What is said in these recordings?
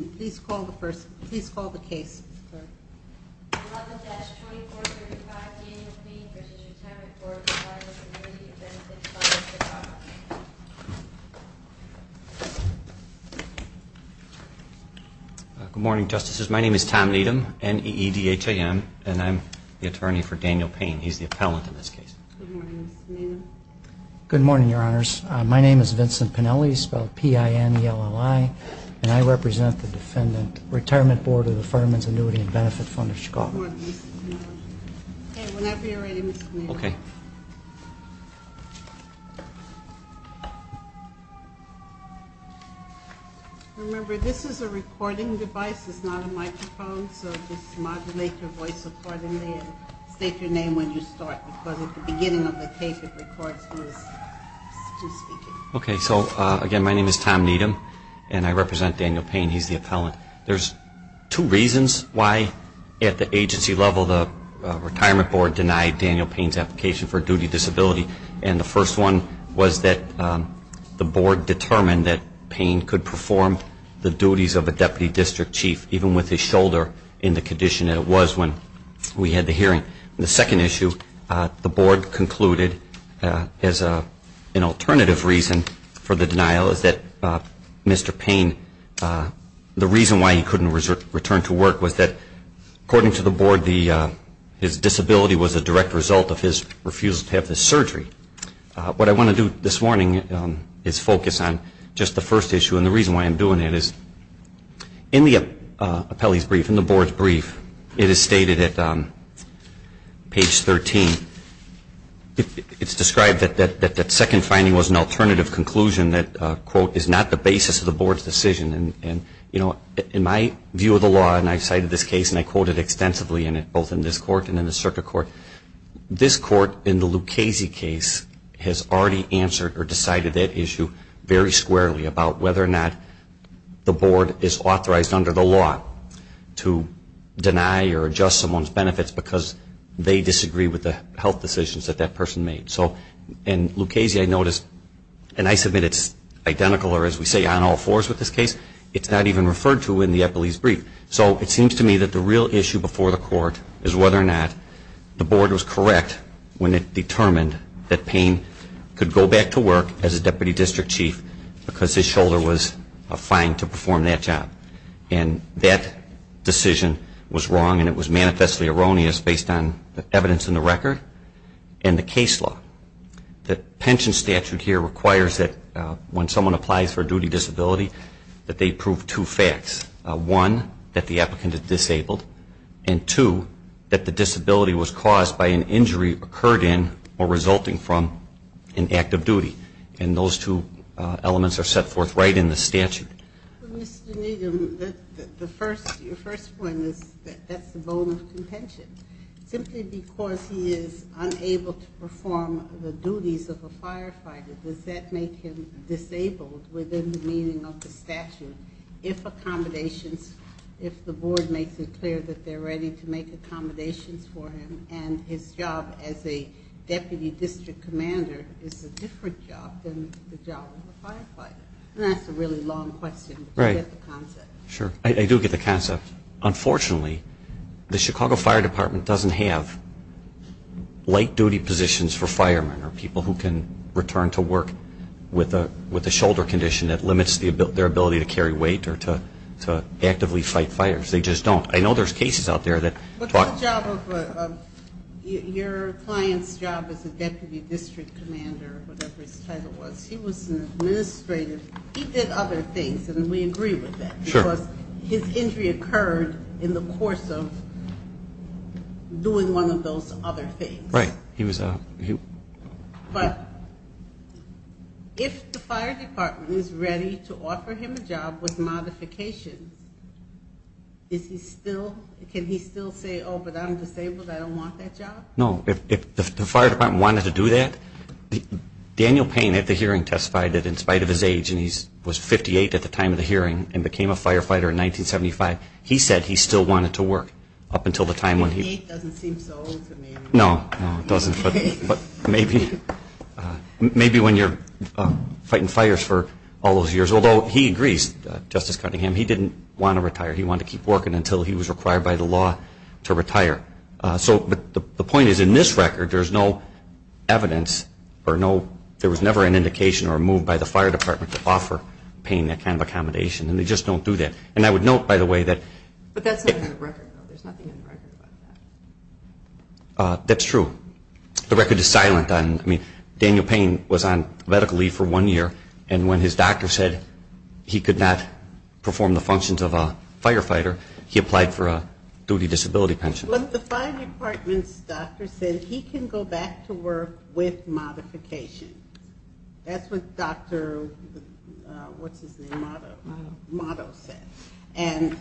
Good morning, Justices. My name is Tom Needham, N-E-E-D-H-A-M, and I'm the attorney for Daniel Payne. He's the appellant in this case. Good morning, Mr. Maynard. Good morning, Your Honor. My name is Tom Needham, and I represent Daniel Payne. He's the appellant. There's two reasons why at the agency level the Retirement Board denied Daniel Payne's application for a duty of disability. And the first one was that the Board determined that Payne could perform the duties of a Deputy District Chief even with his shoulder in the condition that it was when we had the hearing. The second issue, the Board concluded as an Mr. Payne, the reason why he couldn't return to work was that, according to the Board, his disability was a direct result of his refusal to have the surgery. What I want to do this morning is focus on just the first issue. And the reason why I'm doing it is in the appellee's brief, in the Board's brief, it is stated at page 13, it's described that that second finding was an alternative conclusion that, quote, is not the basis of the Board's decision. And, you know, in my view of the law, and I cited this case, and I quoted extensively in it, both in this court and in the circuit court, this court in the Lucchese case has already answered or decided that issue very squarely about whether or not the Board is authorized under the law to deny or adjust someone's benefits because they disagree with the health decisions that that person made. So in And I submit it's identical, or as we say, on all fours with this case. It's not even referred to in the appellee's brief. So it seems to me that the real issue before the Court is whether or not the Board was correct when it determined that Payne could go back to work as a Deputy District Chief because his shoulder was fine to perform that job. And that decision was wrong, and it was manifestly erroneous based on the evidence in the record and the case law. The pension statute here requires that when someone applies for a duty disability, that they prove two facts. One, that the applicant is disabled, and two, that the disability was caused by an injury occurred in or resulting from an act of duty. And those two elements are set forth right in the statute. Well, Mr. Needham, the first, your first point is that that's the bone of contention. Simply because he is unable to perform the duties of a firefighter, does that make him disabled within the meaning of the statute, if accommodations, if the Board makes it clear that they're ready to make accommodations for him and his job as a Deputy District Commander is a different job than the job of a firefighter? That's a really long question, but you get the concept. Sure, I do get the concept. Unfortunately, the Chicago Fire Department doesn't have light duty positions for firemen or people who can return to work with a shoulder condition that limits their ability to carry weight or to actively fight fires. They just don't. I know there's cases out there that... Your client's job as a Deputy District Commander, whatever his title was, he was an administrator. He did other things, and we agree with that. Because his injury occurred in the course of doing one of those other things. But if the Fire Department is ready to offer him a job with modifications, is he still, can he still say, oh, but I'm disabled, I don't want that job? No. If the Fire Department wanted to do that, Daniel Payne at the hearing testified that in spite of his age, and he was 58 at the time of the hearing, and became a firefighter in 1975, he said he still wanted to work up until the time when he... 58 doesn't seem so old to me. No, no, it doesn't. But maybe when you're fighting fires for all those years, although he agrees, Justice He wanted to keep working until he was required by the law to retire. So the point is, in this record, there's no evidence, or no, there was never an indication or a move by the Fire Department to offer Payne that kind of accommodation. And they just don't do that. And I would note, by the way, that... But that's not in the record, though. There's nothing in the record about that. That's true. The record is silent on... I mean, Daniel Payne was on medical leave for one year, and when his retirement came to the functions of a firefighter, he applied for a duty disability pension. But the Fire Department's doctor said he can go back to work with modification. That's what Dr.... What's his name? Motto said. And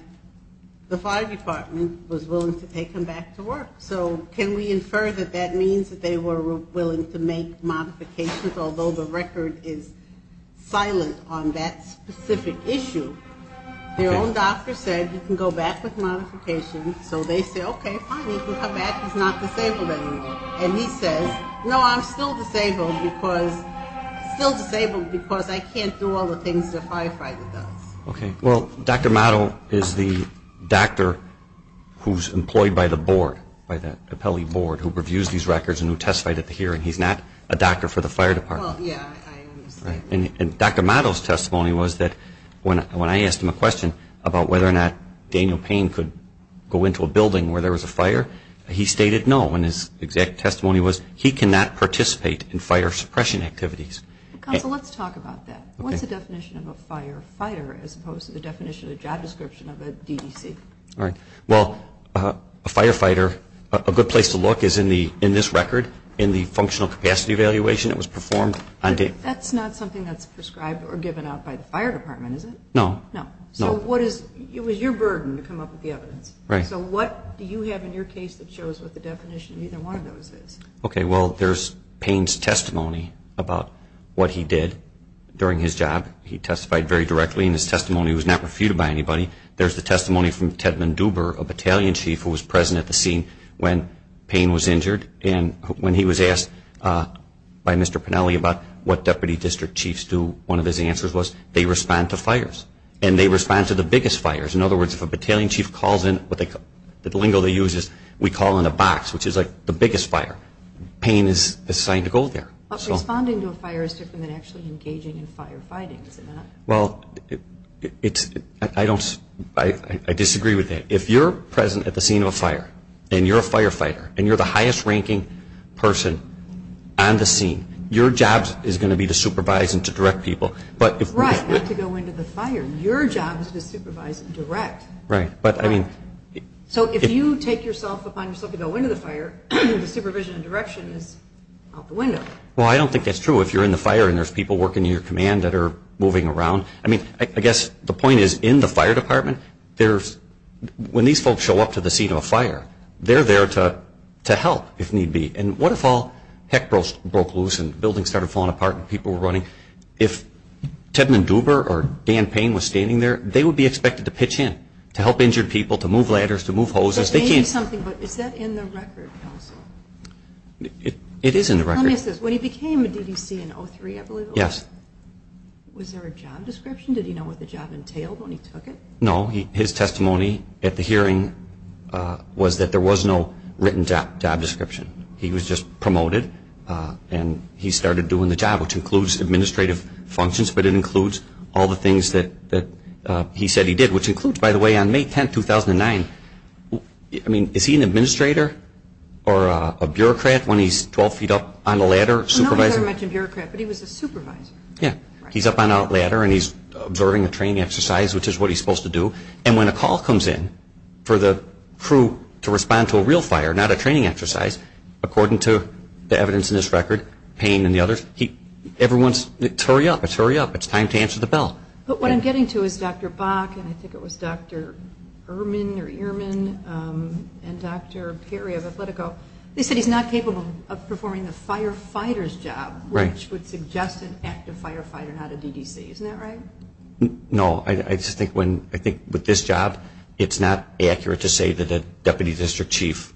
the Fire Department was willing to take him back to work. So can we infer that that means that they were willing to make modifications, although the record is silent on that specific issue? Their own doctor said you can go back with modification. So they said, okay, fine, he can come back. He's not disabled anymore. And he says, no, I'm still disabled because... Still disabled because I can't do all the things a firefighter does. Okay. Well, Dr. Motto is the doctor who's employed by the board, by that appellee board, who reviews these records and who testified at the hearing. He's not a doctor for the Fire Department. Well, yeah, I understand. And Dr. Motto's testimony was that when I asked him a question about whether or not Daniel Payne could go into a building where there was a fire, he stated no. And his exact testimony was he cannot participate in fire suppression activities. Counsel, let's talk about that. What's the definition of a firefighter as opposed to the definition of a job description of a DDC? Well, a firefighter, a good place to look is in this record, in the functional capacity evaluation that was performed. That's not something that's prescribed or given out by the Fire Department, is it? No. No. So what is, it was your burden to come up with the evidence. Right. So what do you have in your case that shows what the definition of either one of those is? Okay, well, there's Payne's testimony about what he did during his job. He testified very directly in his testimony. He was not refuted by anybody. There's the testimony from Ted Manduber, a battalion chief who was present at the scene when Payne was injured. And when he was asked by Mr. Pennelly about what deputy district chiefs do, one of his answers was they respond to fires. And they respond to the biggest fires. In other words, if a battalion chief calls in, the lingo they use is we call in a box, which is like the biggest fire. Payne is assigned to go there. But responding to a fire is different than actually engaging in firefighting, is it not? Well, I disagree with that. If you're present at the scene of a fire, and you're a firefighter, and you're the highest ranking person on the scene, your job is going to be to supervise and to direct people. Right, not to go into the fire. Your job is to supervise and direct. Right. So if you take yourself upon yourself to go into the fire, the supervision and direction is out the window. Well, I don't think that's true if you're in the fire and there's people working in your command that are moving around. I mean, I guess the point is in the fire department, when these folks show up to the scene of a fire, they're there to help if need be. And what if all heck broke loose and buildings started falling apart and people were running? If Tedman Duber or Dan Payne was standing there, they would be expected to pitch in to help injured people, to move ladders, to move hoses. It is in the record. Let me ask this. When he became a DDC in 2003, I believe it was, was there a job description? Did he know what the job entailed when he took it? No. His testimony at the hearing was that there was no written job description. He was just promoted, and he started doing the job, which includes administrative functions, but it includes all the things that he said he did, which includes, by the way, on May 10, 2009. I mean, is he an administrator or a bureaucrat when he's 12 feet up on a ladder supervising? No, he's not a bureaucrat, but he was a supervisor. Yeah. He's up on a ladder, and he's observing a training exercise, which is what he's supposed to do. And when a call comes in for the crew to respond to a real fire, not a training exercise, according to the evidence in this record, Payne and the others, everyone's, it's hurry up, it's hurry up. It's time to answer the bell. But what I'm getting to is Dr. Bach, and I think it was Dr. Ehrman or Ehrman, and Dr. Perry of Athletico, they said he's not capable of performing the firefighter's job, which would suggest an active firefighter, not a DDC. Isn't that right? No. I just think when, I think with this job, it's not accurate to say that a deputy district chief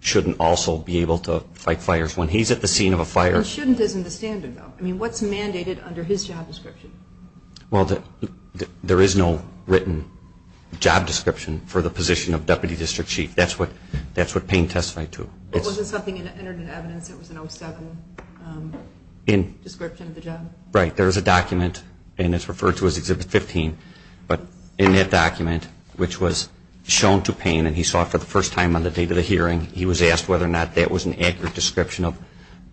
shouldn't also be able to fight fires when he's at the scene of a fire. Shouldn't isn't the standard, though. I mean, what's mandated under his job description? Well, there is no written job description for the position of deputy district chief. That's what Payne testified to. But wasn't something entered in evidence that was an 07 description of the job? Right. There is a document, and it's referred to as Exhibit 15, but in that document, which was shown to Payne, and he saw it for the first time on the date of the hearing, he was asked whether or not that was an accurate description of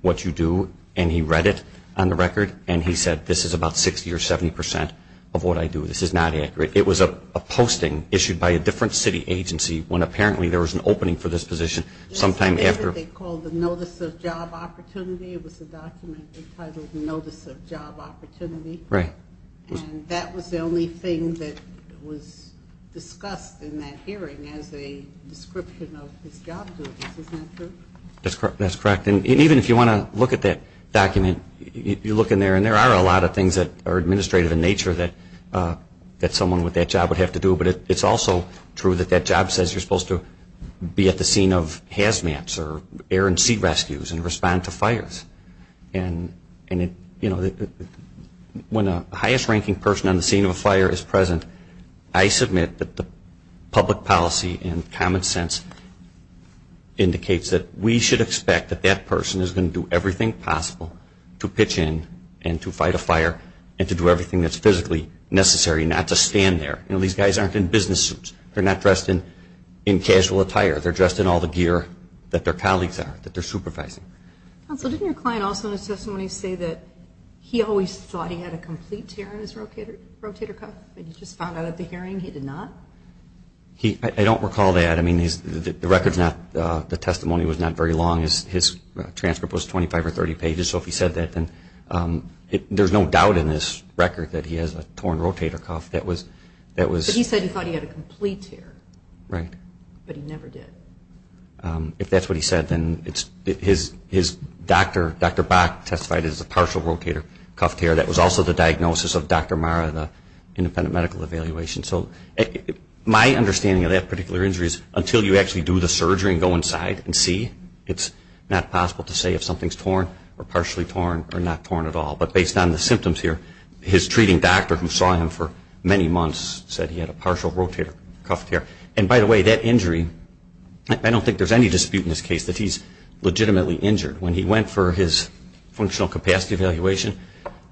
what you do, and he read it on the record, and he said this is about 60 or 70 percent of what I do. This is not accurate. It was a posting issued by a different city agency when apparently there was an opening for this position sometime after. They called it the Notice of Job Opportunity. It was a document entitled Notice of Job Opportunity. Right. And that was the only thing that was discussed in that hearing as a description of his job duties. Isn't that true? That's correct. And even if you want to look at that document, you look in there, and there are a lot of things that are administrative in nature that someone with that job would have to do, but it's also true that that job says you're supposed to be at the scene of hazmats or air and sea rescues and respond to fires. And, you know, when a highest-ranking person on the scene of a fire is present, I submit that the public policy and common sense indicates that we should expect that that person is going to do everything possible to pitch in and to fight a fire and to do everything that's physically necessary not to stand there. You know, these guys aren't in business suits. They're not dressed in casual attire. They're dressed in all the gear that their colleagues are, that they're supervising. Counsel, didn't your client also in his testimony say that he always thought he had a complete tear in his rotator cuff and you just found out at the hearing he did not? I don't recall that. I mean, the record's not, the testimony was not very long. His transcript was 25 or 30 pages. So if he said that, then there's no doubt in this record that he has a torn rotator cuff. But he said he thought he had a complete tear. Right. But he never did. If that's what he said, then his doctor, Dr. Bach, testified it was a partial rotator cuff tear. That was also the diagnosis of Dr. Mara, the independent medical evaluation. So my understanding of that particular injury is until you actually do the surgery and go inside and see, it's not possible to say if something's torn or partially torn or not torn at all. But based on the symptoms here, his treating doctor, who saw him for many months, said he had a partial rotator cuff tear. And by the way, that injury, I don't think there's any dispute in this case that he's legitimately injured. When he went for his functional capacity evaluation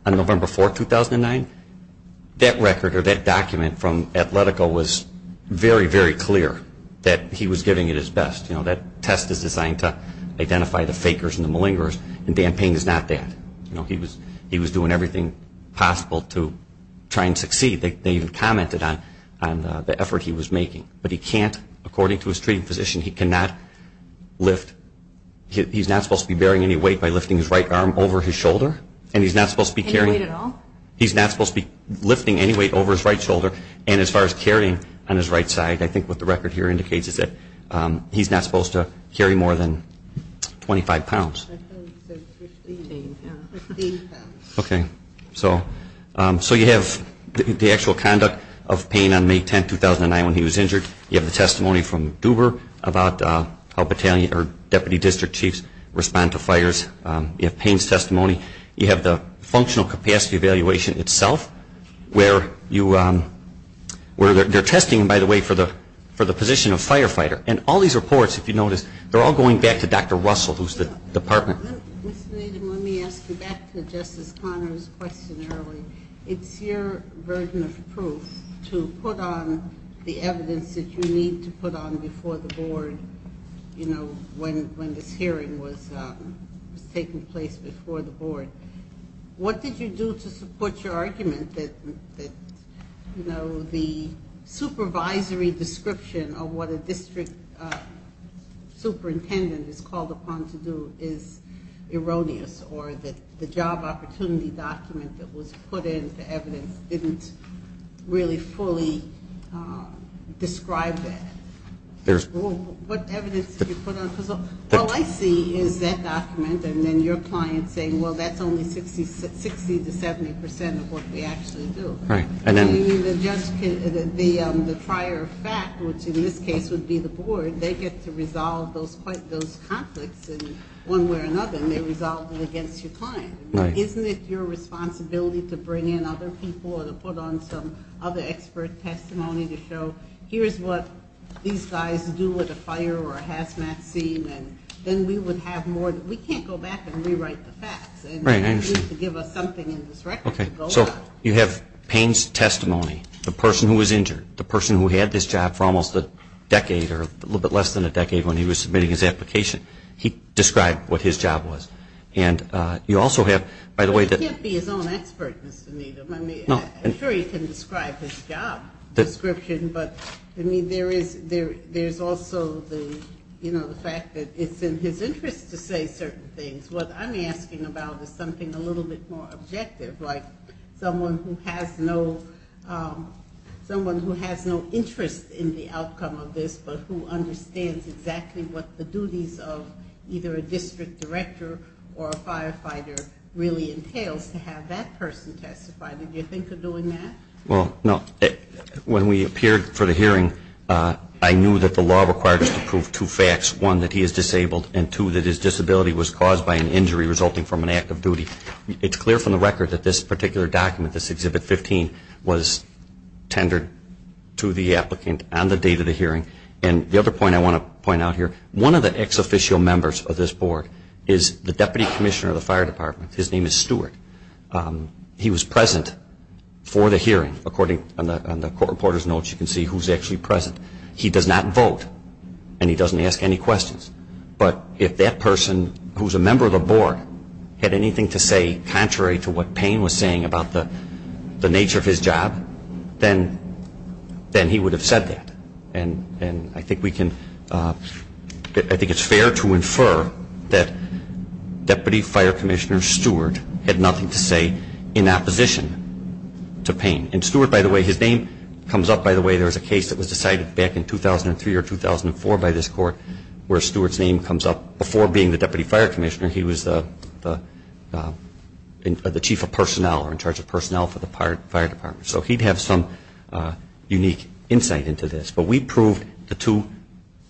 on November 4, 2009, that record or that document from Atletico was very, very clear that he was giving it his best. You know, that test is designed to identify the fakers and the malingerers, and Dan Payne is not that. You know, he was doing everything possible to try and succeed. They even commented on the effort he was making. But he can't, according to his treating physician, he cannot lift. He's not supposed to be bearing any weight by lifting his right arm over his shoulder. And he's not supposed to be carrying any weight at all? He's not supposed to be lifting any weight over his right shoulder. And as far as carrying on his right side, I think what the record here indicates is that he's not supposed to carry more than 25 pounds. Okay. So you have the actual conduct of Payne on May 10, 2009 when he was injured. You have the testimony from Duber about how battalion or deputy district chiefs respond to fires. You have Payne's testimony. You have the functional capacity evaluation itself where they're testing him, by the way, for the position of firefighter. And all these reports, if you notice, they're all going back to Dr. Russell, who's the department. Ms. Nathan, let me ask you back to Justice Conner's question earlier. It's your burden of proof to put on the evidence that you need to put on before the board, you know, when this hearing was taking place before the board. What did you do to support your argument that, you know, the supervisory description of what a district superintendent is called upon to do is erroneous or that the job opportunity document that was put in for evidence didn't really fully describe that? What evidence did you put on? All I see is that document and then your client saying, well, that's only 60 to 70 percent of what we actually do. Right. I know. I mean, the prior fact, which in this case would be the board, they get to resolve those conflicts in one way or another, and they resolve them against your client. Right. Isn't it your responsibility to bring in other people or to put on some other expert testimony to show, okay, here's what these guys do with a fire or a hazmat scene, and then we would have more. We can't go back and rewrite the facts. Right. I understand. And you need to give us something in this record. Okay. So you have Payne's testimony, the person who was injured, the person who had this job for almost a decade or a little bit less than a decade when he was submitting his application. He described what his job was. And you also have, by the way, He can't be his own expert, Mr. Needham. I mean, I'm sure he can describe his job description, but there's also the fact that it's in his interest to say certain things. What I'm asking about is something a little bit more objective, like someone who has no interest in the outcome of this but who understands exactly what the duties of either a district director or a firefighter really entails to have that person testify. Did you think of doing that? Well, no. When we appeared for the hearing, I knew that the law required us to prove two facts. One, that he is disabled, and two, that his disability was caused by an injury resulting from an act of duty. It's clear from the record that this particular document, this Exhibit 15, was tendered to the applicant on the date of the hearing. And the other point I want to point out here, one of the ex-officio members of this board is the Deputy Commissioner of the Fire Department. His name is Stewart. He was present for the hearing. According to the court reporter's notes, you can see who's actually present. He does not vote, and he doesn't ask any questions. But if that person, who's a member of the board, had anything to say contrary to what Payne was saying about the nature of his job, then he would have said that. And I think it's fair to infer that Deputy Fire Commissioner Stewart had nothing to say in opposition to Payne. And Stewart, by the way, his name comes up, by the way. There was a case that was decided back in 2003 or 2004 by this court where Stewart's name comes up. Before being the Deputy Fire Commissioner, he was the Chief of Personnel or in charge of personnel for the Fire Department. So he'd have some unique insight into this. But we proved the two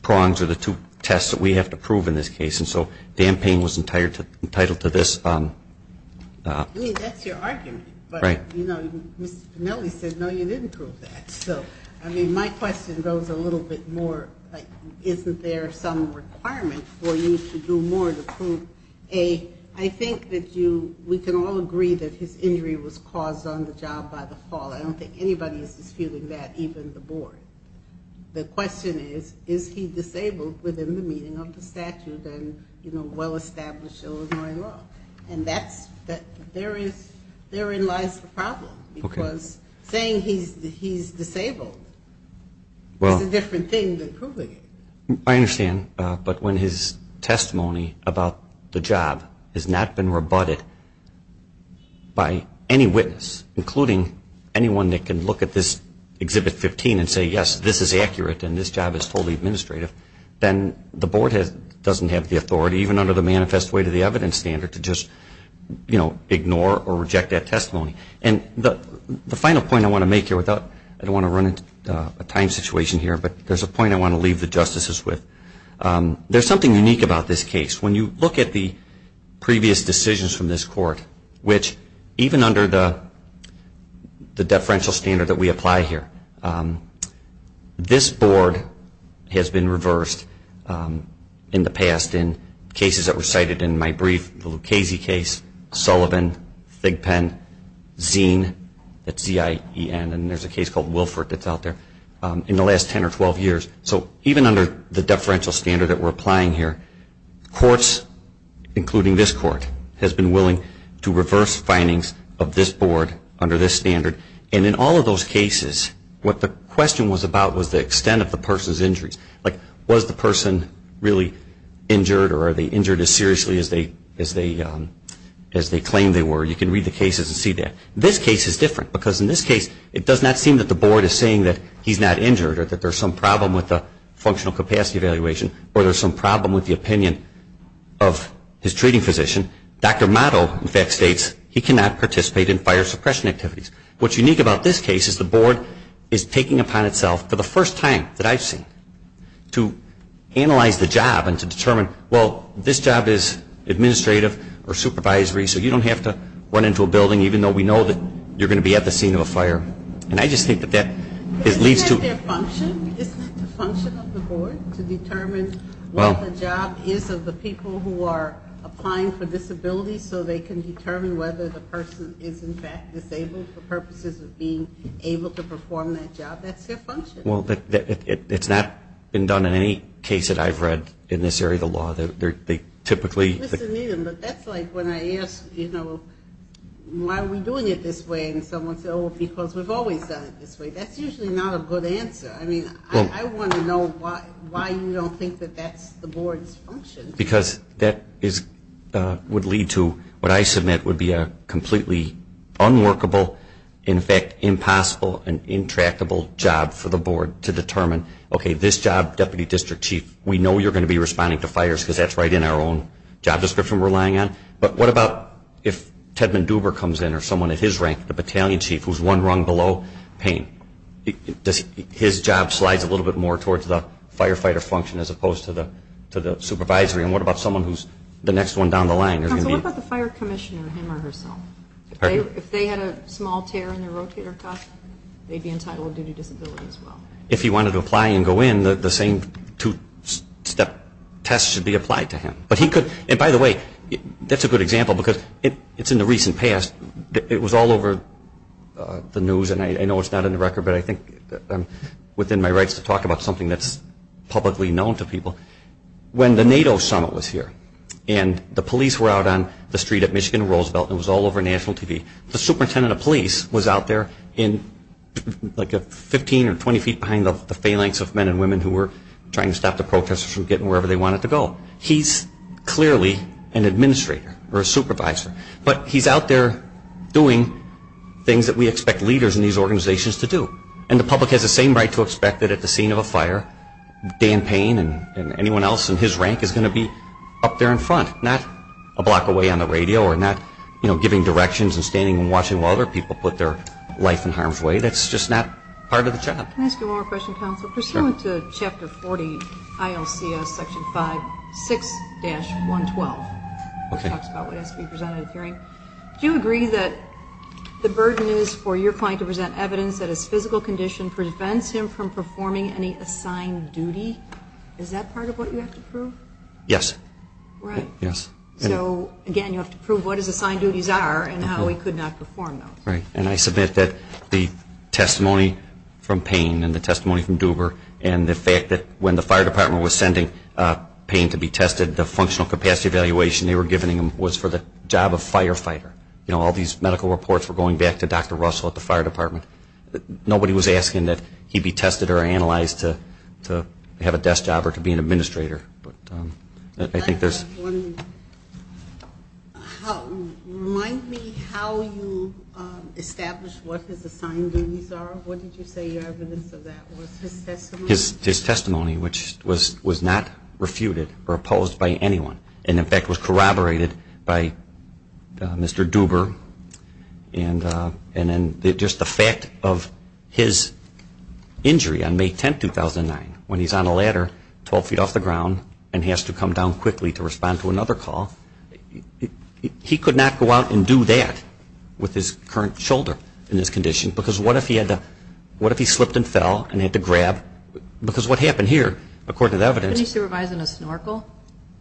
prongs or the two tests that we have to prove in this case. And so Dan Payne was entitled to this. I mean, that's your argument. Right. But, you know, Mr. Pinelli said, no, you didn't prove that. So, I mean, my question goes a little bit more, like, isn't there some requirement for you to do more to prove, A, I think that we can all agree that his injury was caused on the job by the fall. I don't think anybody is disputing that, even the board. The question is, is he disabled within the meaning of the statute and, you know, well-established Illinois law. And therein lies the problem because saying he's disabled is a different thing than proving it. I understand. But when his testimony about the job has not been rebutted by any witness, including anyone that can look at this Exhibit 15 and say, yes, this is accurate and this job is totally administrative, then the board doesn't have the authority, even under the manifest way to the evidence standard, to just, you know, ignore or reject that testimony. And the final point I want to make here, I don't want to run into a time situation here, but there's a point I want to leave the justices with. There's something unique about this case. When you look at the previous decisions from this court, which even under the deferential standard that we apply here, this board has been reversed in the past in cases that were cited in my brief, the Lucchese case, Sullivan, Thigpen, Zeen, that's Z-I-E-N, and there's a case called Wilford that's out there, in the last 10 or 12 years. So even under the deferential standard that we're applying here, courts, including this court, has been willing to reverse findings of this board under this standard, and in all of those cases, what the question was about was the extent of the person's injuries. Like, was the person really injured or are they injured as seriously as they claimed they were? You can read the cases and see that. This case is different, because in this case, it does not seem that the board is saying that he's not injured or that there's some problem with the functional capacity evaluation or there's some problem with the opinion of his treating physician. Dr. Motto, in fact, states he cannot participate in fire suppression activities. What's unique about this case is the board is taking upon itself, for the first time that I've seen, to analyze the job and to determine, well, this job is administrative or supervisory, so you don't have to run into a building, even though we know that you're going to be at the scene of a fire. And I just think that that leads to... Isn't that their function? Isn't it the function of the board to determine what the job is of the people who are applying for disabilities so they can determine whether the person is, in fact, disabled for purposes of being able to perform that job? That's their function. Well, it's not been done in any case that I've read in this area of the law. They typically... But that's like when I ask, you know, why are we doing it this way? And someone says, oh, because we've always done it this way. That's usually not a good answer. I mean, I want to know why you don't think that that's the board's function. Because that would lead to what I submit would be a completely unworkable, in fact, impossible and intractable job for the board to determine, okay, this job, Deputy District Chief, we know you're going to be responding to fires because that's right in our own job description we're relying on, but what about if Tedman Duber comes in or someone at his rank, the Battalion Chief, who's one rung below Payne? His job slides a little bit more towards the firefighter function as opposed to the supervisory, and what about someone who's the next one down the line? Counsel, what about the fire commissioner, him or herself? If they had a small tear in their rotator cuff, they'd be entitled to a duty disability as well. If he wanted to apply and go in, the same two-step test should be applied to him. And, by the way, that's a good example because it's in the recent past. It was all over the news, and I know it's not in the record, but I think I'm within my rights to talk about something that's publicly known to people. When the NATO summit was here and the police were out on the street at Michigan Roosevelt and it was all over national TV, the superintendent of police was out there 15 or 20 feet behind the phalanx of men and women who were trying to stop the protesters from getting wherever they wanted to go. He's clearly an administrator or a supervisor, but he's out there doing things that we expect leaders in these organizations to do. And the public has the same right to expect that at the scene of a fire, Dan Payne and anyone else in his rank is going to be up there in front, not a block away on the radio or not giving directions and standing and watching while other people put their life in harm's way. That's just not part of the job. Can I ask you one more question, Counselor? Pursuant to Chapter 40, ILCS, Section 5, 6-112, which talks about what has to be presented at a hearing, do you agree that the burden is for your client to present evidence that his physical condition prevents him from performing any assigned duty? Is that part of what you have to prove? Yes. Right. So, again, you have to prove what his assigned duties are and how he could not perform those. Right. And I submit that the testimony from Payne and the testimony from Duber and the fact that when the fire department was sending Payne to be tested, the functional capacity evaluation they were giving him was for the job of firefighter. You know, all these medical reports were going back to Dr. Russell at the fire department. Nobody was asking that he be tested or analyzed to have a desk job or to be an administrator. Remind me how you established what his assigned duties are. What did you say your evidence of that was? His testimony? His testimony, which was not refuted or opposed by anyone, and, in fact, was corroborated by Mr. Duber. And then just the fact of his injury on May 10, 2009, when he's on a ladder 12 feet off the ground and he has to come down quickly to respond to another call, he could not go out and do that with his current shoulder in this condition because what if he slipped and fell and had to grab? Because what happened here, according to the evidence. Couldn't he supervise in a snorkel?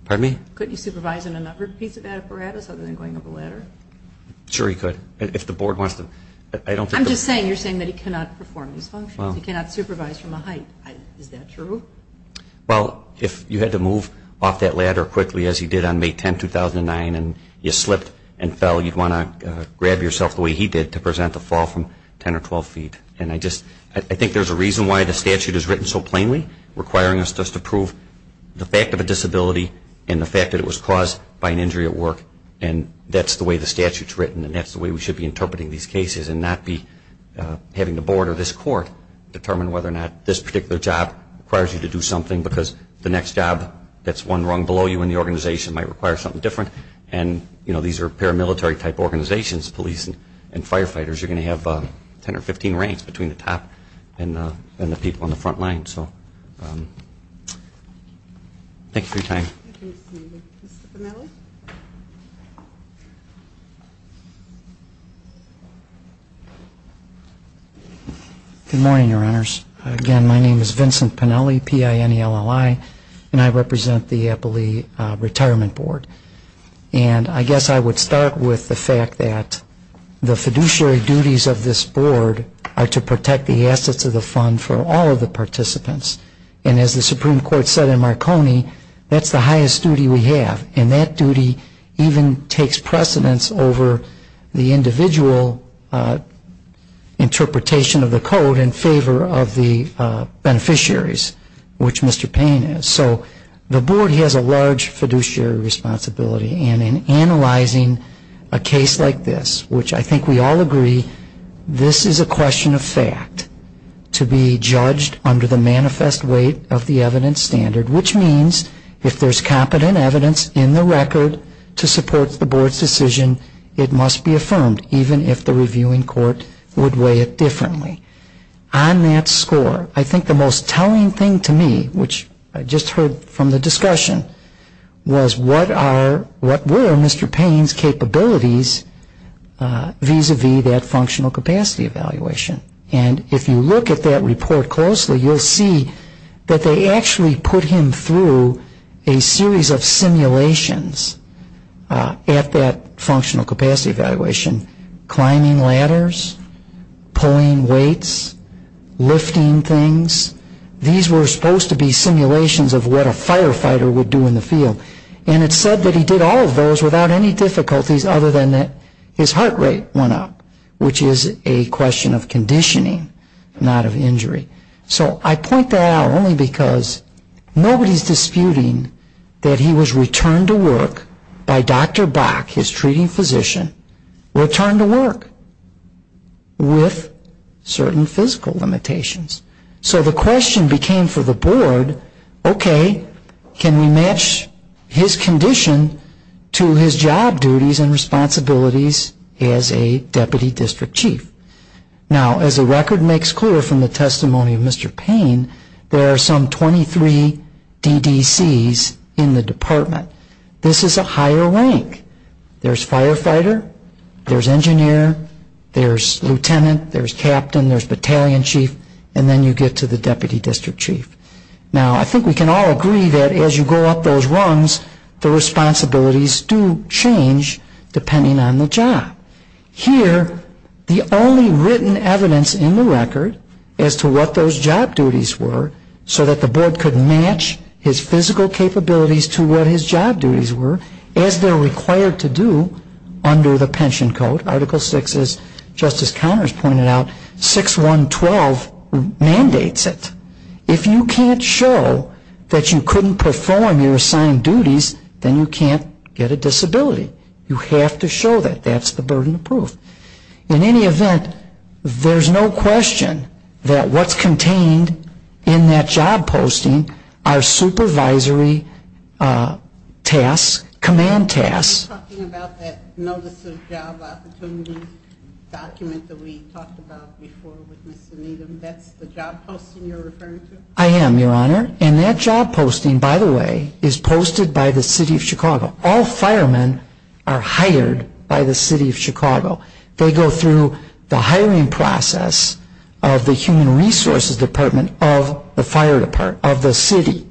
Pardon me? Couldn't he supervise in another piece of apparatus other than going up a ladder? Sure he could if the board wants to. I'm just saying, you're saying that he cannot perform these functions. He cannot supervise from a height. Is that true? Well, if you had to move off that ladder quickly, as he did on May 10, 2009, and you slipped and fell, you'd want to grab yourself the way he did to present a fall from 10 or 12 feet. And I think there's a reason why the statute is written so plainly, requiring us just to prove the fact of a disability and the fact that it was caused by an injury at work, and that's the way the statute's written, and that's the way we should be interpreting these cases and not be having the board or this court determine whether or not this particular job requires you to do something because the next job that's one rung below you in the organization might require something different. And, you know, these are paramilitary-type organizations, police and firefighters. You're going to have 10 or 15 ranks between the top and the people on the front line. So thank you for your time. Mr. Pennelly? Good morning, Your Honors. Again, my name is Vincent Pennelly, P-I-N-E-L-L-I, and I represent the Eppley Retirement Board. And I guess I would start with the fact that the fiduciary duties of this board are to protect the assets of the fund for all of the participants. And as the Supreme Court said in Marconi, that's the highest duty we have, and that duty even takes precedence over the individual interpretation of the code in favor of the beneficiaries, which Mr. Payne is. So the board has a large fiduciary responsibility, and in analyzing a case like this, which I think we all agree this is a question of fact, to be judged under the manifest weight of the evidence standard, which means if there's competent evidence in the record to support the board's decision, it must be affirmed, even if the reviewing court would weigh it differently. On that score, I think the most telling thing to me, which I just heard from the discussion, was what were Mr. Payne's capabilities vis-à-vis that functional capacity evaluation. And if you look at that report closely, you'll see that they actually put him through a series of simulations at that functional capacity evaluation, climbing ladders, pulling weights, lifting things. These were supposed to be simulations of what a firefighter would do in the field. And it's said that he did all of those without any difficulties other than that his heart rate went up, which is a question of conditioning, not of injury. So I point that out only because nobody's disputing that he was returned to work by Dr. Bach, his treating physician, returned to work with certain physical limitations. So the question became for the board, okay, can we match his condition to his job duties and responsibilities as a deputy district chief? Now, as the record makes clear from the testimony of Mr. Payne, there are some 23 DDCs in the department. This is a higher rank. There's firefighter, there's engineer, there's lieutenant, there's captain, there's battalion chief, and then you get to the deputy district chief. Now, I think we can all agree that as you go up those rungs, the responsibilities do change depending on the job. Here, the only written evidence in the record as to what those job duties were so that the board could match his physical capabilities to what his job duties were as they're required to do under the pension code. Article 6, as Justice Connors pointed out, 6.1.12 mandates it. If you can't show that you couldn't perform your assigned duties, then you can't get a disability. You have to show that. That's the burden of proof. In any event, there's no question that what's contained in that job posting are supervisory tasks, command tasks. Are you talking about that notice of job opportunity document that we talked about before with Mr. Needham? That's the job posting you're referring to? I am, Your Honor. And that job posting, by the way, is posted by the city of Chicago. All firemen are hired by the city of Chicago. They go through the hiring process of the Human Resources Department of the city.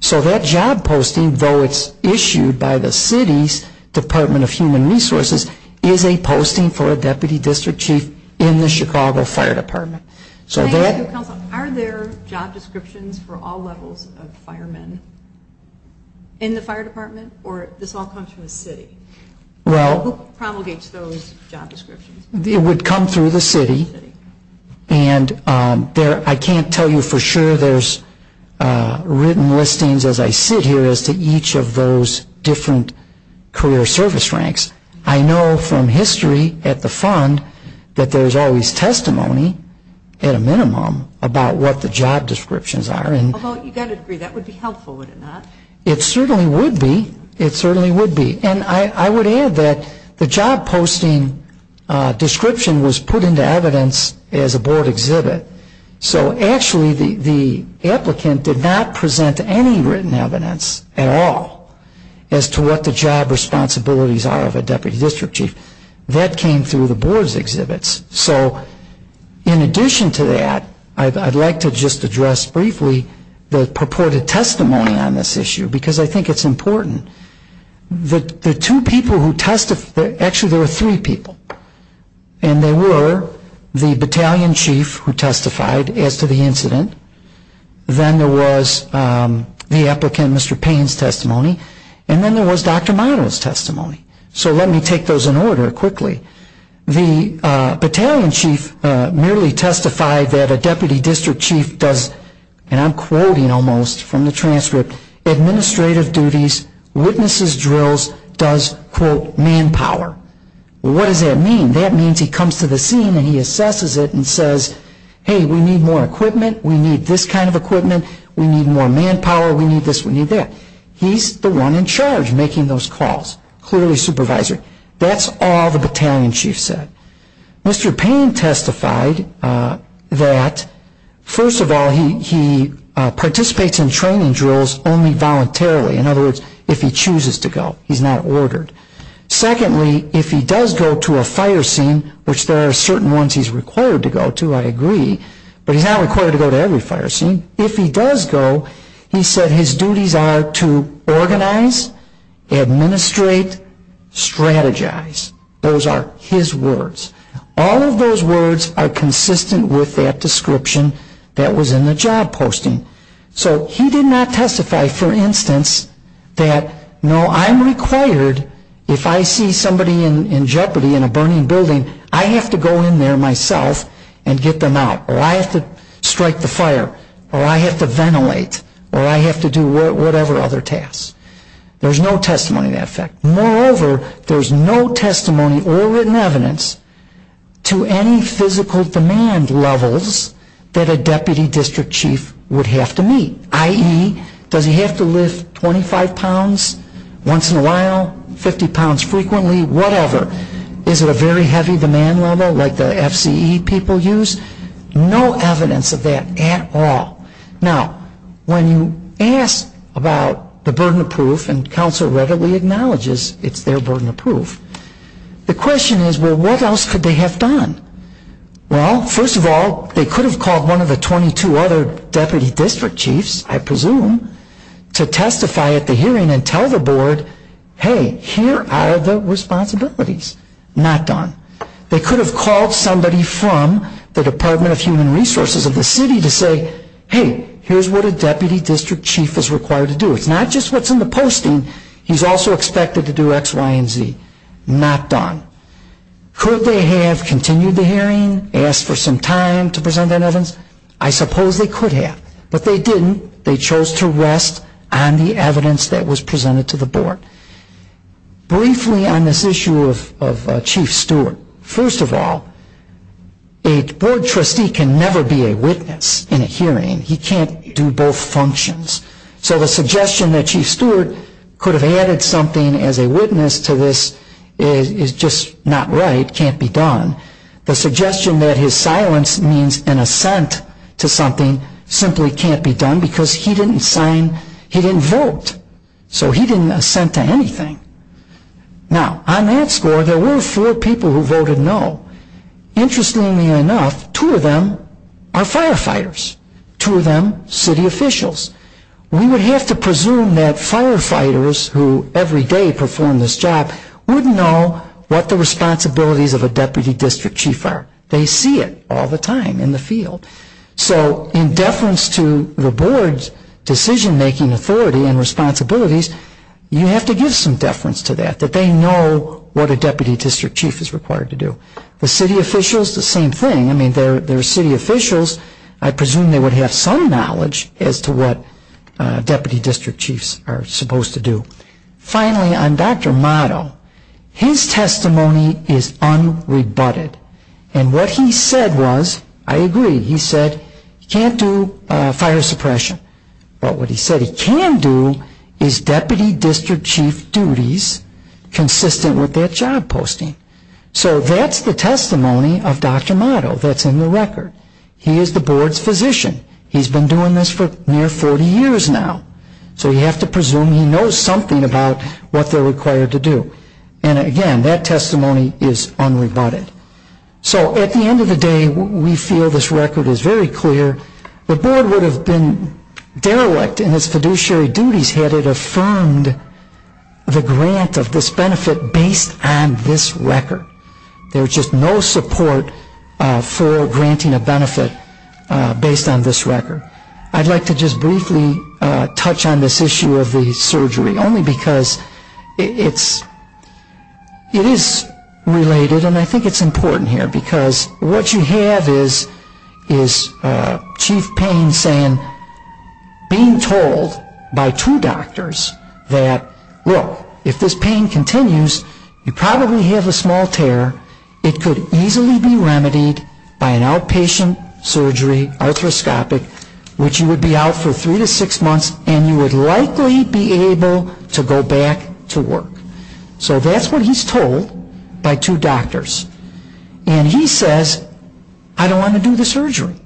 So that job posting, though it's issued by the city's Department of Human Resources, is a posting for a Deputy District Chief in the Chicago Fire Department. Thank you, Counselor. Are there job descriptions for all levels of firemen in the fire department? Or this all comes from the city? Who promulgates those job descriptions? It would come through the city. And I can't tell you for sure there's written listings as I sit here as to each of those different career service ranks. I know from history at the fund that there's always testimony at a minimum about what the job descriptions are. Although, you've got to agree, that would be helpful, would it not? It certainly would be. It certainly would be. And I would add that the job posting description was put into evidence as a board exhibit. So actually the applicant did not present any written evidence at all as to what the job responsibilities are of a Deputy District Chief. That came through the board's exhibits. So in addition to that, I'd like to just address briefly the purported testimony on this issue because I think it's important. The two people who testified, actually there were three people. And they were the Battalion Chief who testified as to the incident. Then there was the applicant, Mr. Payne's, testimony. And then there was Dr. Meinl's testimony. So let me take those in order quickly. The Battalion Chief merely testified that a Deputy District Chief does, and I'm quoting almost from the transcript, administrative duties, witnesses drills, does, quote, manpower. What does that mean? That means he comes to the scene and he assesses it and says, hey, we need more equipment, we need this kind of equipment, we need more manpower, we need this, we need that. He's the one in charge making those calls, clearly supervisory. That's all the Battalion Chief said. Mr. Payne testified that, first of all, he participates in training drills only voluntarily. In other words, if he chooses to go. He's not ordered. Secondly, if he does go to a fire scene, which there are certain ones he's required to go to, I agree, but he's not required to go to every fire scene. If he does go, he said his duties are to organize, administrate, strategize. Those are his words. All of those words are consistent with that description that was in the job posting. So he did not testify, for instance, that, no, I'm required if I see somebody in jeopardy in a burning building, I have to go in there myself and get them out, or I have to strike the fire, or I have to ventilate, or I have to do whatever other tasks. There's no testimony to that effect. Moreover, there's no testimony or written evidence to any physical demand levels that a Deputy District Chief would have to meet, i.e., does he have to lift 25 pounds once in a while, 50 pounds frequently, whatever. Is it a very heavy demand level like the FCE people use? No evidence of that at all. Now, when you ask about the burden of proof, and Council readily acknowledges it's their burden of proof, the question is, well, what else could they have done? Well, first of all, they could have called one of the 22 other Deputy District Chiefs, I presume, to testify at the hearing and tell the Board, hey, here are the responsibilities. Not done. They could have called somebody from the Department of Human Resources of the city to say, hey, here's what a Deputy District Chief is required to do. It's not just what's in the posting. He's also expected to do X, Y, and Z. Not done. Could they have continued the hearing, asked for some time to present their evidence? I suppose they could have, but they didn't. They chose to rest on the evidence that was presented to the Board. Briefly on this issue of Chief Stewart, first of all, a Board trustee can never be a witness in a hearing. He can't do both functions. So the suggestion that Chief Stewart could have added something as a witness to this is just not right, can't be done. The suggestion that his silence means an assent to something simply can't be done because he didn't sign, he didn't vote. So he didn't assent to anything. Now, on that score, there were four people who voted no. Interestingly enough, two of them are firefighters, two of them city officials. We would have to presume that firefighters who every day perform this job would know what the responsibilities of a Deputy District Chief are. They see it all the time in the field. So in deference to the Board's decision-making authority and responsibilities, you have to give some deference to that, that they know what a Deputy District Chief is required to do. The city officials, the same thing. I mean, they're city officials. I presume they would have some knowledge as to what Deputy District Chiefs are supposed to do. Finally, on Dr. Motto, his testimony is unrebutted. And what he said was, I agree, he said he can't do fire suppression. But what he said he can do is Deputy District Chief duties consistent with that job posting. So that's the testimony of Dr. Motto that's in the record. He is the Board's physician. He's been doing this for near 40 years now. So you have to presume he knows something about what they're required to do. And again, that testimony is unrebutted. So at the end of the day, we feel this record is very clear. The Board would have been derelict in its fiduciary duties had it affirmed the grant of this benefit based on this record. There's just no support for granting a benefit based on this record. I'd like to just briefly touch on this issue of the surgery, only because it is related and I think it's important here. Because what you have is Chief Payne saying, being told by two doctors that, look, if this pain continues, you probably have a small tear. It could easily be remedied by an outpatient surgery, arthroscopic, which you would be out for three to six months and you would likely be able to go back to work. So that's what he's told by two doctors. And he says, I don't want to do the surgery.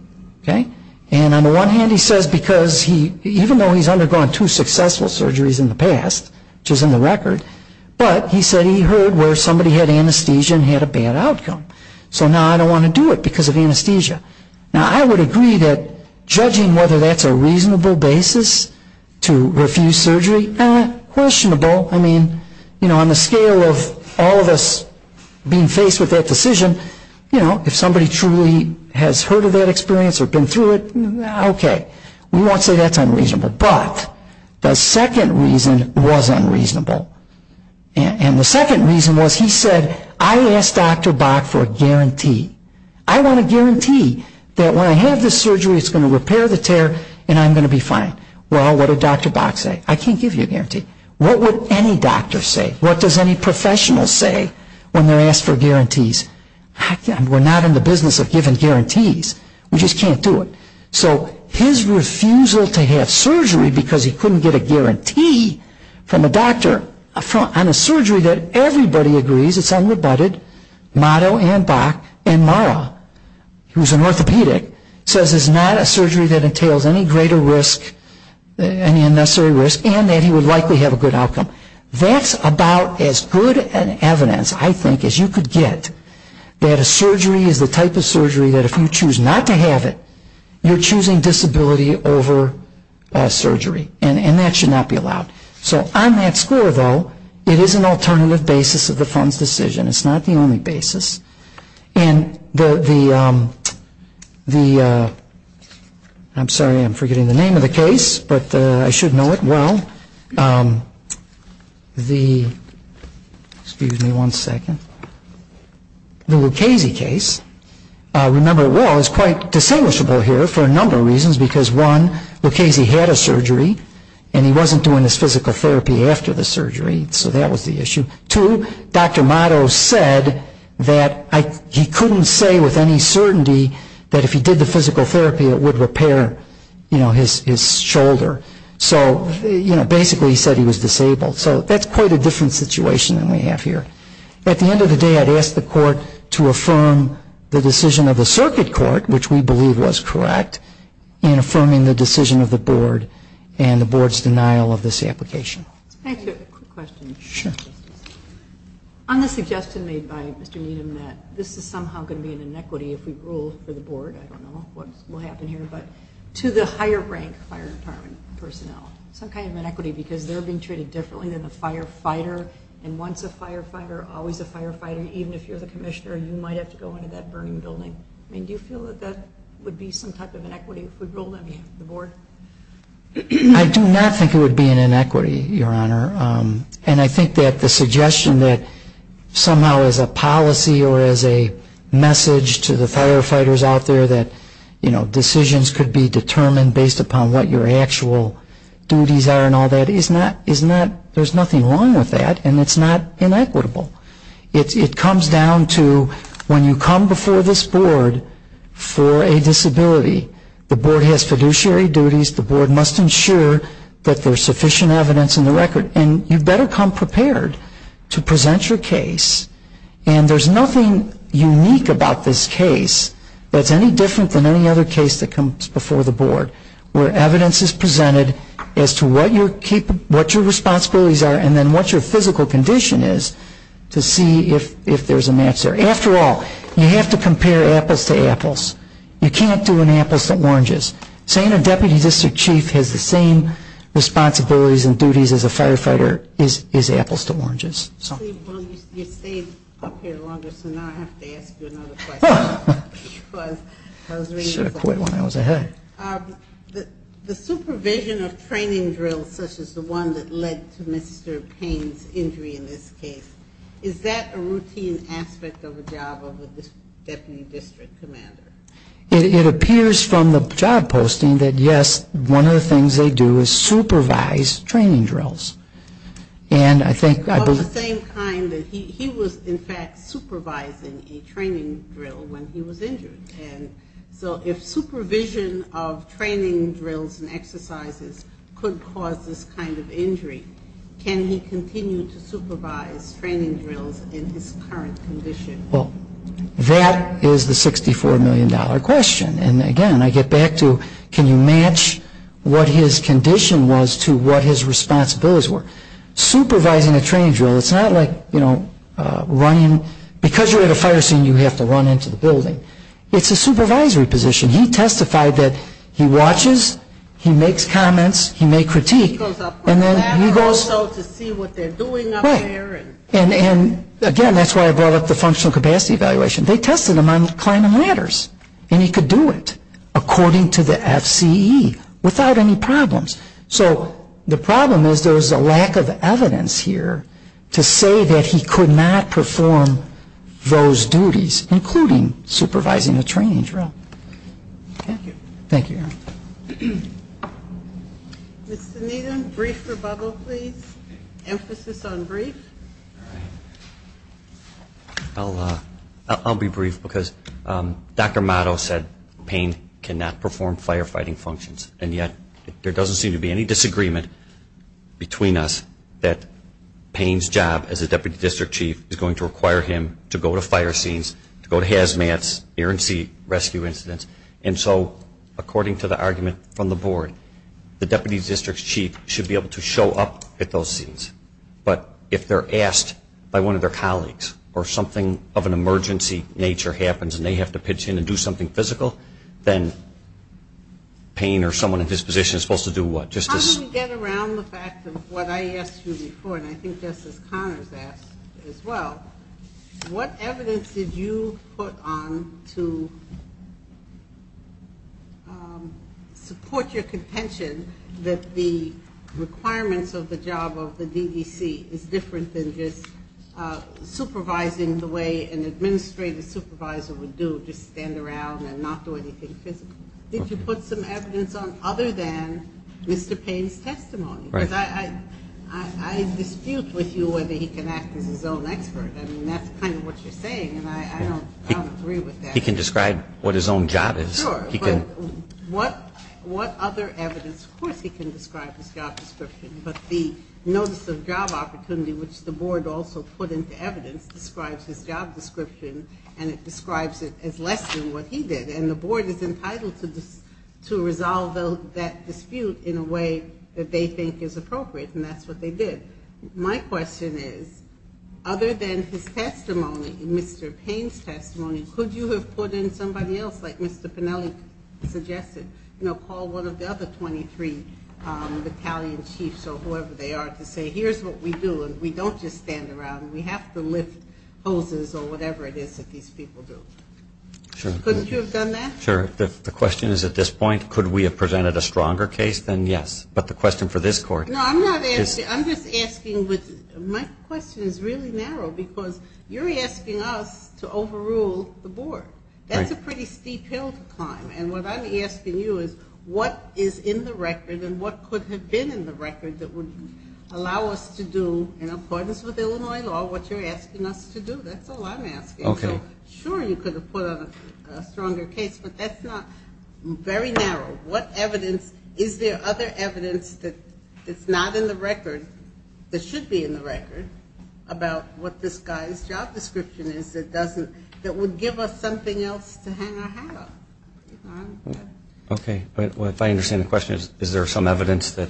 And on the one hand, he says because even though he's undergone two successful surgeries in the past, which is in the record, but he said he heard where somebody had anesthesia and had a bad outcome. So now I don't want to do it because of anesthesia. Now I would agree that judging whether that's a reasonable basis to refuse surgery, questionable. I mean, you know, on the scale of all of us being faced with that decision, you know, if somebody truly has heard of that experience or been through it, okay, we won't say that's unreasonable. But the second reason was unreasonable. And the second reason was he said, I asked Dr. Bach for a guarantee. I want a guarantee that when I have this surgery, it's going to repair the tear and I'm going to be fine. Well, what did Dr. Bach say? I can't give you a guarantee. What would any doctor say? What does any professional say when they're asked for guarantees? We're not in the business of giving guarantees. We just can't do it. So his refusal to have surgery because he couldn't get a guarantee from a doctor on a surgery that everybody agrees it's unrebutted, motto and Bach, and Mara, who's an orthopedic, says it's not a surgery that entails any greater risk, any unnecessary risk, and that he would likely have a good outcome. That's about as good an evidence, I think, as you could get that a surgery is the type of surgery that if you choose not to have it, you're choosing disability over surgery. And that should not be allowed. So on that score, though, it is an alternative basis of the fund's decision. It's not the only basis. And the, I'm sorry, I'm forgetting the name of the case, but I should know it well. The, excuse me one second. The Lucchese case, remember it well, is quite distinguishable here for a number of reasons, because one, Lucchese had a surgery and he wasn't doing his physical therapy after the surgery, so that was the issue. Two, Dr. Motto said that he couldn't say with any certainty that if he did the physical therapy, it would repair, you know, his shoulder. So, you know, basically he said he was disabled. So that's quite a different situation than we have here. At the end of the day, I'd ask the court to affirm the decision of the circuit court, which we believe was correct, in affirming the decision of the board and the board's denial of this application. Can I ask you a quick question? Sure. On the suggestion made by Mr. Needham that this is somehow going to be an inequity if we rule for the board, I don't know what will happen here, but to the higher rank fire department personnel, some kind of inequity because they're being treated differently than the firefighter, and once a firefighter, always a firefighter, even if you're the commissioner, you might have to go into that burning building. I mean, do you feel that that would be some type of inequity if we ruled on behalf of the board? I do not think it would be an inequity, Your Honor, and I think that the suggestion that somehow as a policy or as a message to the firefighters out there that, you know, decisions could be determined based upon what your actual duties are and all that, there's nothing wrong with that, and it's not inequitable. It comes down to when you come before this board for a disability, the board has fiduciary duties, the board must ensure that there's sufficient evidence in the record, and you better come prepared to present your case, and there's nothing unique about this case that's any different than any other case that comes before the board where evidence is presented as to what your responsibilities are and then what your physical condition is to see if there's a match there. After all, you have to compare apples to apples. You can't do an apples to oranges. Saying a deputy district chief has the same responsibilities and duties as a firefighter is apples to oranges. Well, you stayed up here longer, so now I have to ask you another question. I should have quit when I was ahead. The supervision of training drills such as the one that led to Mr. Payne's injury in this case, is that a routine aspect of the job of a deputy district commander? It appears from the job posting that, yes, one of the things they do is supervise training drills. Of the same kind that he was, in fact, supervising a training drill when he was injured, and so if supervision of training drills and exercises could cause this kind of injury, can he continue to supervise training drills in his current condition? Well, that is the $64 million question. And, again, I get back to can you match what his condition was to what his responsibilities were. Supervising a training drill, it's not like, you know, running. Because you're at a fire scene, you have to run into the building. It's a supervisory position. He testified that he watches, he makes comments, he may critique. He goes up on the ladder also to see what they're doing up there. Right. And, again, that's why I brought up the functional capacity evaluation. They tested him on climbing ladders, and he could do it according to the FCE without any problems. So the problem is there was a lack of evidence here to say that he could not perform those duties, including supervising a training drill. Thank you. Thank you. Mr. Needham, brief rebuttal, please. Emphasis on brief. I'll be brief because Dr. Motto said Payne cannot perform firefighting functions, and yet there doesn't seem to be any disagreement between us that Payne's job as a Deputy District Chief is going to require him to go to fire scenes, to go to hazmats, air and sea rescue incidents. And so, according to the argument from the Board, the Deputy District Chief should be able to show up at those scenes. But if they're asked by one of their colleagues or something of an emergency nature happens and they have to pitch in and do something physical, then Payne or someone in his position is supposed to do what? How do we get around the fact of what I asked you before, and I think Justice Connors asked as well, what evidence did you put on to support your contention that the requirements of the job of the DDC is different than just supervising the way an administrative supervisor would do, just stand around and not do anything physical? Did you put some evidence on other than Mr. Payne's testimony? Because I dispute with you whether he can act as his own expert. I mean, that's kind of what you're saying, and I don't agree with that. He can describe what his own job is. Sure, but what other evidence? Of course he can describe his job description, but the notice of job opportunity, which the Board also put into evidence, describes his job description, and it describes it as less than what he did. And the Board is entitled to resolve that dispute in a way that they think is appropriate, and that's what they did. My question is, other than his testimony and Mr. Payne's testimony, could you have put in somebody else, like Mr. Pennelly suggested, called one of the other 23 battalion chiefs or whoever they are to say, here's what we do, and we don't just stand around. We have to lift hoses or whatever it is that these people do. Sure. Couldn't you have done that? Sure. The question is, at this point, could we have presented a stronger case than yes? But the question for this Court is. No, I'm not asking. I'm just asking. My question is really narrow because you're asking us to overrule the Board. That's a pretty steep hill to climb. And what I'm asking you is what is in the record and what could have been in the record that would allow us to do, in accordance with Illinois law, what you're asking us to do. That's all I'm asking. Okay. So, sure, you could have put on a stronger case, but that's not very narrow. What evidence? Is there other evidence that's not in the record, that should be in the record, about what this guy's job description is that doesn't, that would give us something else to hang our hat on? Okay. If I understand the question, is there some evidence that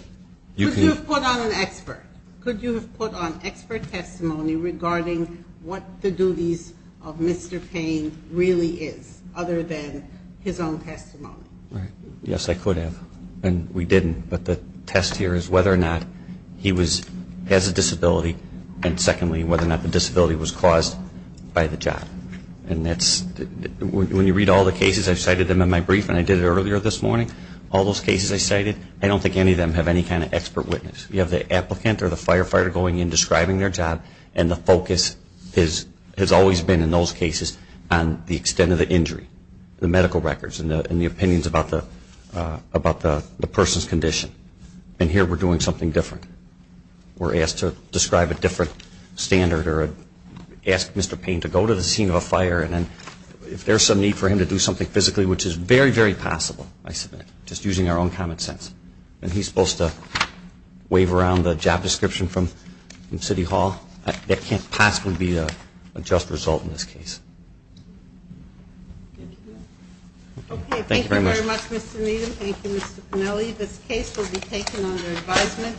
you can... Could you have put on an expert? Could you have put on expert testimony regarding what the duties of Mr. Payne really is, other than his own testimony? Yes, I could have, and we didn't. But the test here is whether or not he has a disability, and secondly whether or not the disability was caused by the job. And that's, when you read all the cases, I've cited them in my brief, and I did it earlier this morning, all those cases I cited, I don't think any of them have any kind of expert witness. You have the applicant or the firefighter going in, describing their job, and the focus has always been in those cases on the extent of the injury, the medical records, and the opinions about the person's condition. And here we're doing something different. We're asked to describe a different standard or ask Mr. Payne to go to the scene of a fire, and if there's some need for him to do something physically, which is very, very possible, I submit, just using our own common sense. And he's supposed to wave around a job description from City Hall. That can't possibly be a just result in this case. Thank you very much. Okay, thank you very much, Mr. Needham. Thank you, Mr. Pinelli. This case will be taken under advisement.